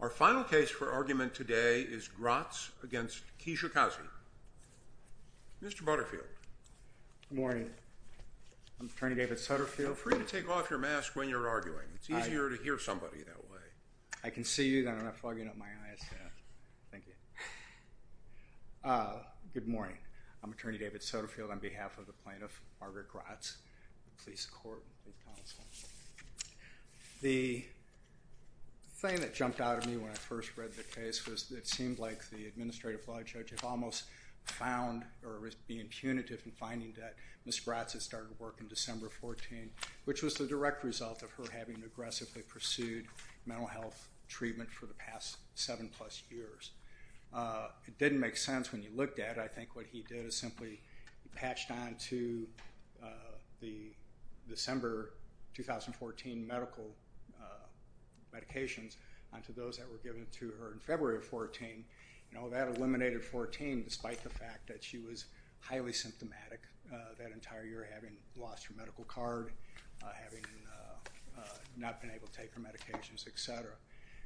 Our final case for argument today is Grotts v. Kilolo Kijakazi. Mr. Butterfield. Good morning. I'm Attorney David Sutterfield. Feel free to take off your mask when you're arguing. It's easier to hear somebody that way. I can see you, then I'm not fogging up my eyes. Thank you. Good morning. I'm Attorney David Sutterfield on behalf of the plaintiff, Margaret Grotts, police court and police counsel. The thing that jumped out at me when I first read the case was it seemed like the administrative law judge had almost found, or was being punitive in finding that Ms. Grotts had started work on December 14, which was the direct result of her having aggressively pursued mental health treatment for the past seven plus years. It didn't make sense when you looked at it. I think what he did is simply patched on to the December 2014 medical medications onto those that were given to her in February of 14. That eliminated 14 despite the fact that she was highly symptomatic that entire year, having lost her medical card, having not been able to take her medications, etc.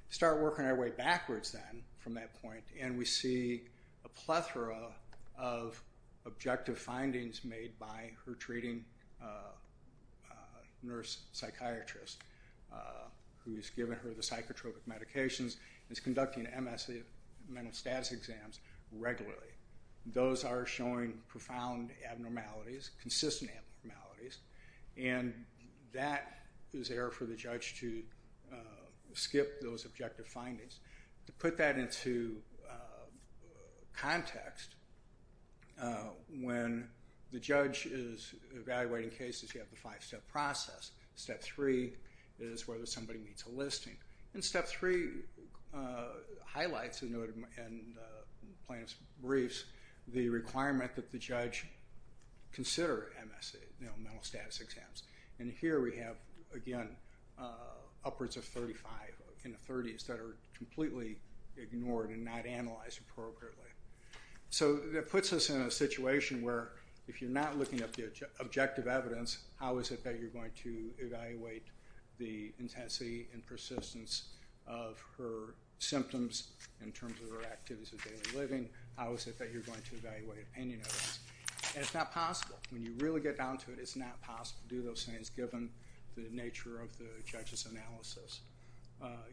Start working our way backwards then from that point and we see a plethora of objective findings made by her treating nurse psychiatrist who has given her the psychotropic medications and is conducting MS and mental status exams regularly. Those are showing profound abnormalities, consistent abnormalities, and that is error for the judge to skip those objective findings. To put that into context, when the judge is evaluating cases you have the five-step process. Step three is whether somebody meets a listing. Step three highlights in plaintiff's briefs the requirement that the judge consider mental status exams. Here we have upwards of 35 in the 30s that are completely ignored and not analyzed appropriately. That puts us in a situation where if you're not looking at the objective evidence, how is it that you're going to evaluate the intensity and persistence of her symptoms in terms of her activities of daily living? How is it that you're going to evaluate opinion of this? It's not possible. When you really get down to it, it's not possible to do those things given the nature of the judge's analysis.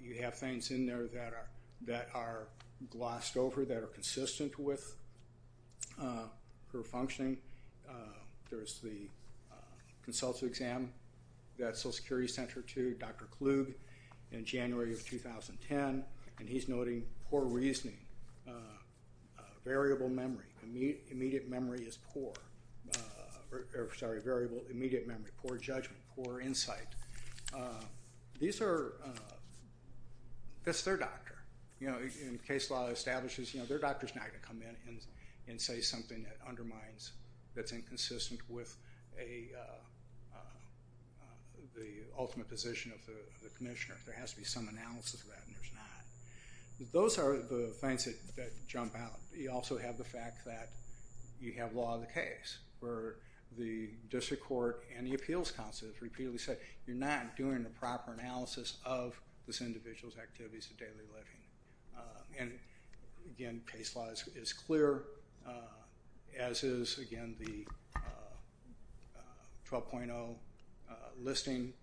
You have things in there that are glossed over, that are consistent with her functioning. There's the consultative exam that Social Security sent her to, Dr. Klug, in January of 2010, and he's noting poor reasoning, variable memory, immediate memory is poor, sorry, variable immediate memory, poor judgment, poor insight. That's their doctor. Case law establishes their doctor's not going to come in and say something that undermines, that's inconsistent with the ultimate position of the commissioner. There has to be some analysis of that, and there's not. Those are the things that jump out. You also have the fact that you have law of the case, where the district court and the appeals counsel repeatedly say, you're not doing the proper analysis of this individual's activities of daily living. Again, case law is clear, as is, again, the 12.0 listing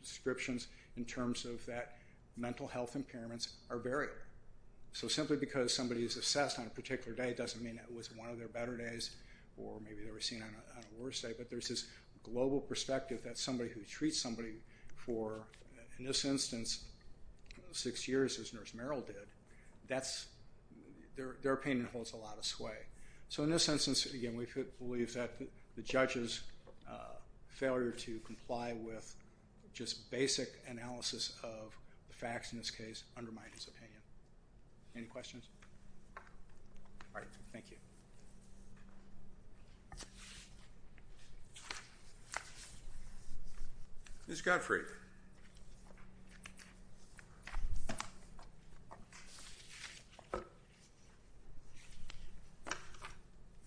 descriptions in terms of that mental health impairments are varied. Simply because somebody is assessed on a particular day doesn't mean it was one of their better days, or maybe they were seen on a worse day, but there's this global perspective that somebody who treats somebody for, in this instance, six years as Nurse Merrill did, their opinion holds a lot of sway. In this instance, again, we believe that the judge's failure to comply with just basic analysis of the facts in this case undermines his opinion. Any questions? All right, thank you. Ms. Godfrey.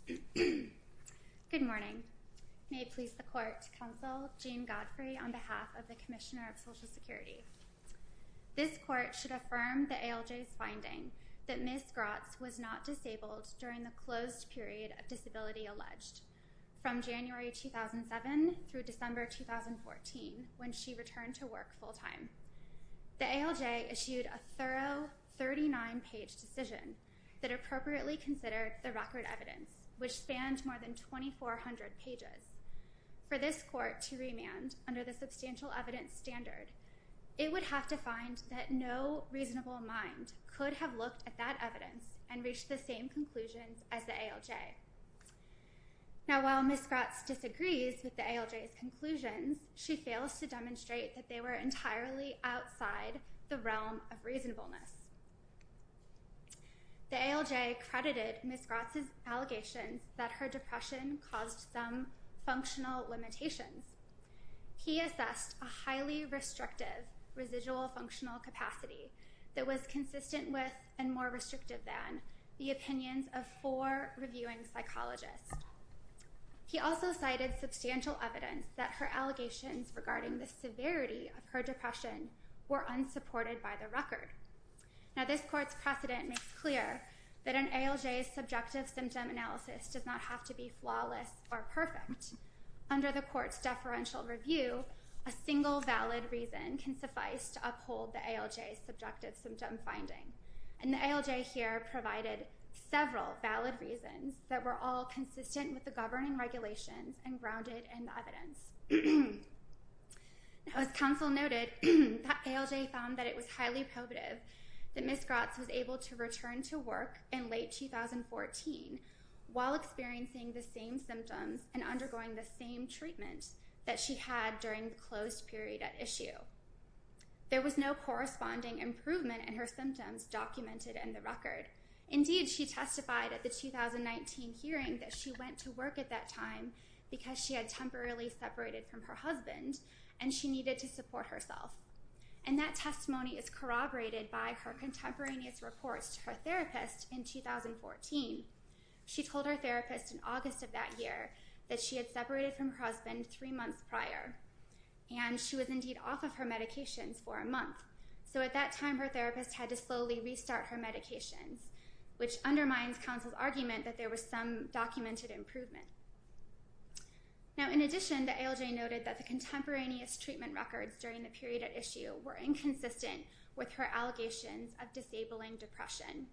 Good morning. May it please the court, Counsel Jean Godfrey, on behalf of the Commissioner of Social Security. This court should affirm the ALJ's finding that Ms. Grotz was not disabled during the closed period of disability alleged, from January 2007 through December 2014, when she returned to work full time. The ALJ issued a thorough 39-page decision that appropriately considered the record evidence, which spanned more than 2,400 pages. For this court to remand under the substantial evidence standard, it would have to find that no reasonable mind could have looked at that evidence and reached the same conclusions as the ALJ. Now, while Ms. Grotz disagrees with the ALJ's conclusions, she fails to demonstrate that they were entirely outside the realm of reasonableness. The ALJ credited Ms. Grotz's allegations that her depression caused some functional limitations. He assessed a highly restrictive residual functional capacity that was consistent with and more restrictive than the opinions of four reviewing psychologists. He also cited substantial evidence that her allegations regarding the severity of her depression were unsupported by the record. Now, this court's precedent makes clear that an ALJ's subjective symptom analysis does not have to be flawless or perfect. Under the court's deferential review, a single valid reason can suffice to uphold the ALJ's subjective symptom finding. And the ALJ here provided several valid reasons Now, as counsel noted, the ALJ found that it was highly probative that Ms. Grotz was able to return to work in late 2014 while experiencing the same symptoms and undergoing the same treatment that she had during the closed period at issue. There was no corresponding improvement in her symptoms documented in the record. Indeed, she testified at the 2019 hearing that she went to work at that time because she had temporarily separated from her husband and she needed to support herself. And that testimony is corroborated by her contemporaneous reports to her therapist in 2014. She told her therapist in August of that year that she had separated from her husband three months prior and she was indeed off of her medications for a month. So at that time, her therapist had to slowly restart her medications, which undermines counsel's argument that there was some documented improvement. Now, in addition, the ALJ noted that the contemporaneous treatment records during the period at issue were inconsistent with her allegations of disabling depression.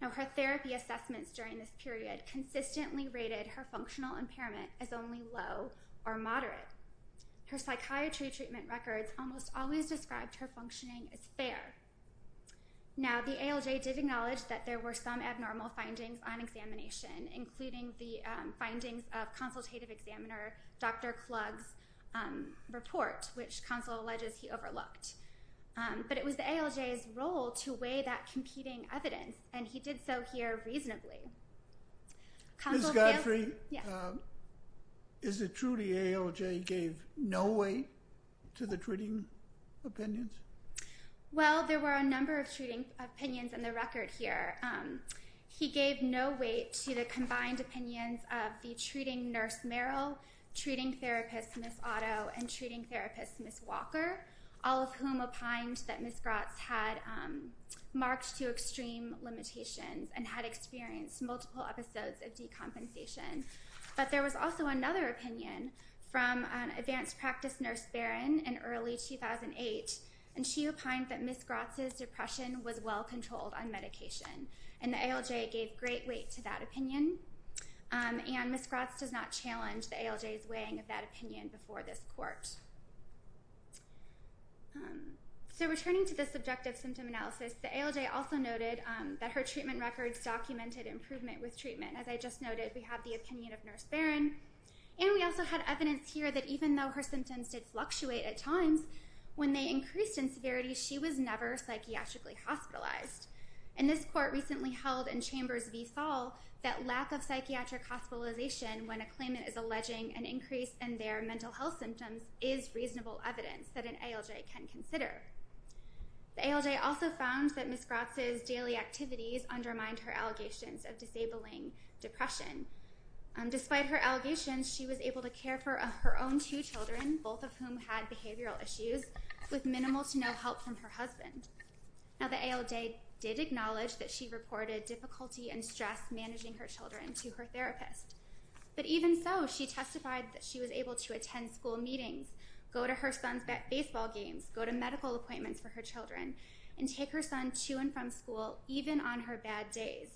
Now, her therapy assessments during this period consistently rated her functional impairment as only low or moderate. Her psychiatry treatment records almost always described her functioning as fair. Now, the ALJ did acknowledge that there were some abnormal findings on examination, including the findings of consultative examiner Dr. Klug's report, which counsel alleges he overlooked. But it was the ALJ's role to weigh that competing evidence, and he did so here reasonably. Ms. Godfrey, is it true the ALJ gave no weight to the treating opinions? Well, there were a number of treating opinions in the record here. He gave no weight to the combined opinions of the treating nurse, Meryl, treating therapist, Ms. Otto, and treating therapist, Ms. Walker, all of whom opined that Ms. Grotz had marked to extreme limitations and had experienced multiple episodes of decompensation. But there was also another opinion from an advanced practice nurse, Barron, in early 2008, and she opined that Ms. Grotz's depression was well controlled on medication, and the ALJ gave great weight to that opinion. And Ms. Grotz does not challenge the ALJ's weighing of that opinion before this court. So returning to the subjective symptom analysis, the ALJ also noted that her treatment records documented improvement with treatment. As I just noted, we have the opinion of Nurse Barron, and we also had evidence here that even though her symptoms did fluctuate at times, when they increased in severity, she was never psychiatrically hospitalized. And this court recently held in Chambers v. Saul that lack of psychiatric hospitalization when a claimant is alleging an increase in their mental health symptoms is reasonable evidence that an ALJ can consider. The ALJ also found that Ms. Grotz's daily activities undermined her allegations of disabling depression. Despite her allegations, she was able to care for her own two children, both of whom had behavioral issues, with minimal to no help from her husband. Now the ALJ did acknowledge that she reported difficulty and stress managing her children to her therapist. But even so, she testified that she was able to attend school meetings, go to her son's baseball games, go to medical appointments for her children, and take her son to and from school even on her bad days.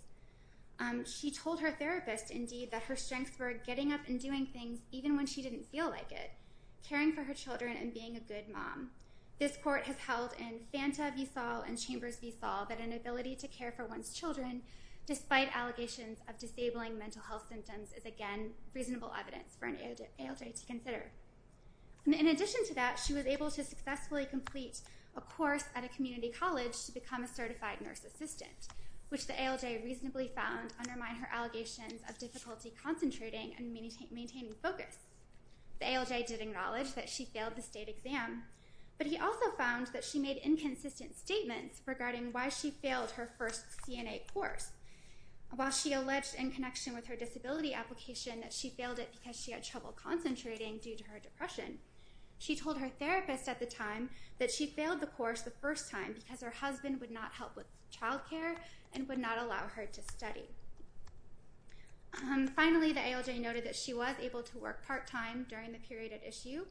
She told her therapist, indeed, that her strengths were getting up and doing things even when she didn't feel like it, caring for her children and being a good mom. This court has held in Fanta v. Saul and Chambers v. Saul that an ability to care for one's children, despite allegations of disabling mental health symptoms, is again reasonable evidence for an ALJ to consider. In addition to that, she was able to successfully complete a course at a community college to become a certified nurse assistant, which the ALJ reasonably found undermined her allegations of difficulty concentrating and maintaining focus. The ALJ did acknowledge that she failed the state exam, but he also found that she made inconsistent statements regarding why she failed her first CNA course. While she alleged in connection with her disability application that she failed it because she had trouble concentrating due to her depression, she told her therapist at the time that she failed the course the first time because her husband would not help with child care and would not allow her to study. Finally, the ALJ noted that she was able to work part-time during the period at issue,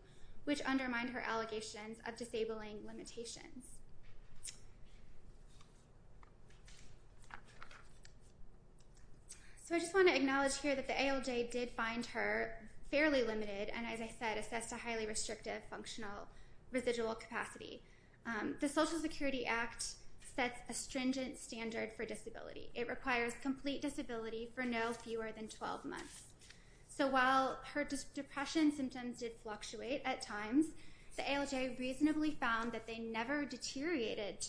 which undermined her allegations of disabling limitations. So I just want to acknowledge here that the ALJ did find her fairly limited and, as I said, assessed a highly restrictive functional residual capacity. The Social Security Act sets a stringent standard for disability. It requires complete disability for no fewer than 12 months. So while her depression symptoms did fluctuate at times, to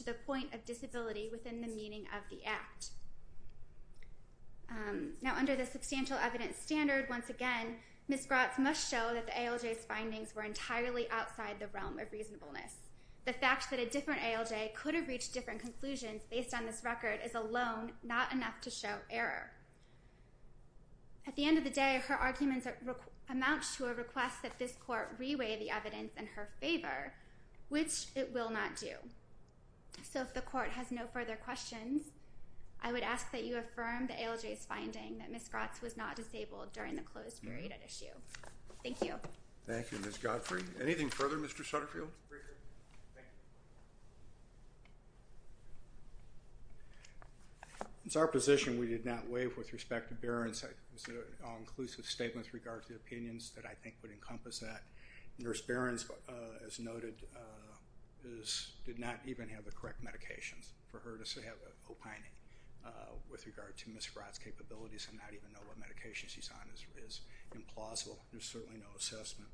the point of disability within the meaning of the Act. Now, under the substantial evidence standard, once again, Ms. Grotz must show that the ALJ's findings were entirely outside the realm of reasonableness. The fact that a different ALJ could have reached different conclusions based on this record is alone not enough to show error. At the end of the day, her arguments amount to a request that this Court re-weigh the evidence in her favor, which it will not do. So if the Court has no further questions, I would ask that you affirm the ALJ's finding that Ms. Grotz was not disabled during the closed period at issue. Thank you. Thank you, Ms. Godfrey. Anything further, Mr. Sutterfield? It's our position we did not waive with respect to Barron's all-inclusive statement with regard to the opinions that I think would encompass that. Nurse Barron, as noted, did not even have the correct medications for her to have opioid with regard to Ms. Grotz's capabilities and not even know what medication she's on is implausible. There's certainly no assessment.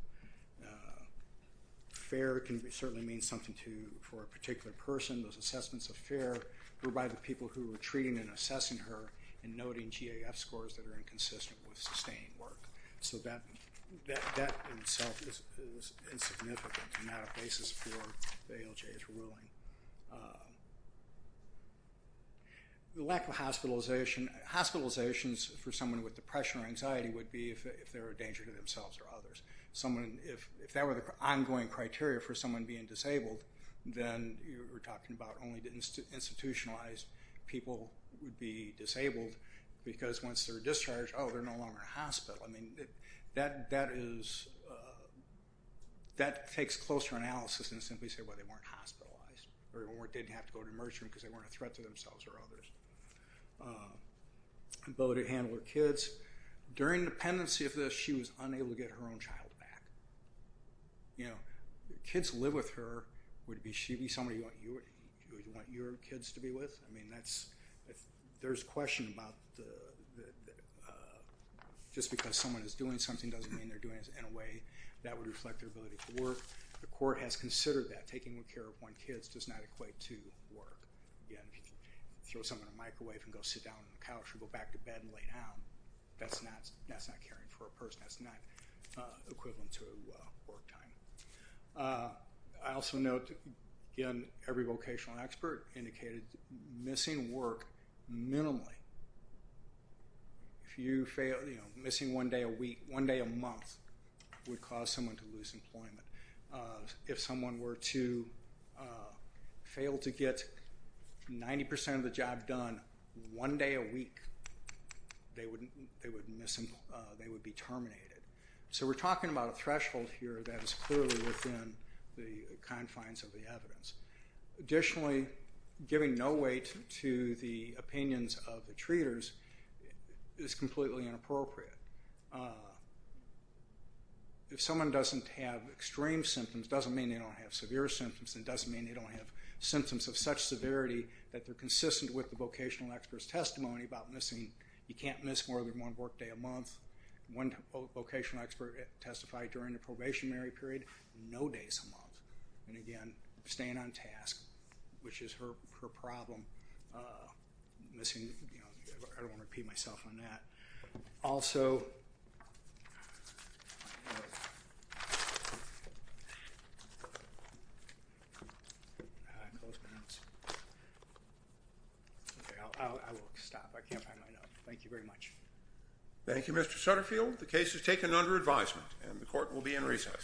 FAIR can certainly mean something for a particular person. Those assessments of FAIR were by the people who were treating and assessing her and noting GAF scores that are inconsistent with sustained work. So that in itself is insignificant on that basis for the ALJ's ruling. The lack of hospitalizations for someone with depression or anxiety would be if they're a danger to themselves or others. If that were the ongoing criteria for someone being disabled, then you're talking about only institutionalized people would be disabled because once they're discharged, oh, they're no longer in a hospital. I mean, that takes closer analysis than to simply say, well, they weren't hospitalized or didn't have to go to an emergency room because they weren't a threat to themselves or others. Bo did handle her kids. During the pendency of this, she was unable to get her own child back. You know, kids live with her. Would she be somebody you would want your kids to be with? I mean, there's a question about just because someone is doing something doesn't mean they're doing it in a way that would reflect their ability to work. The court has considered that. Taking care of one's kids does not equate to work. You can throw someone in the microwave and go sit down on the couch or go back to bed and lay down. That's not caring for a person. That's not equivalent to work time. I also note, again, every vocational expert indicated missing work minimally. If you fail, you know, missing one day a week, one day a month, would cause someone to lose employment. If someone were to fail to get 90% of the job done one day a week, they would be terminated. So we're talking about a threshold here that is clearly within the confines of the evidence. Additionally, giving no weight to the opinions of the treaters is completely inappropriate. If someone doesn't have extreme symptoms, it doesn't mean they don't have severe symptoms and it doesn't mean they don't have symptoms of such severity that they're consistent with the vocational expert's testimony about missing. You can't miss more than one work day a month. One vocational expert testified during the probationary period, no days a month. And, again, staying on task, which is her problem. Missing, you know, I don't want to repeat myself on that. Also, I will stop. I can't find my notes. Thank you very much. Thank you, Mr. Sutterfield. The case is taken under advisement and the court will be in recess.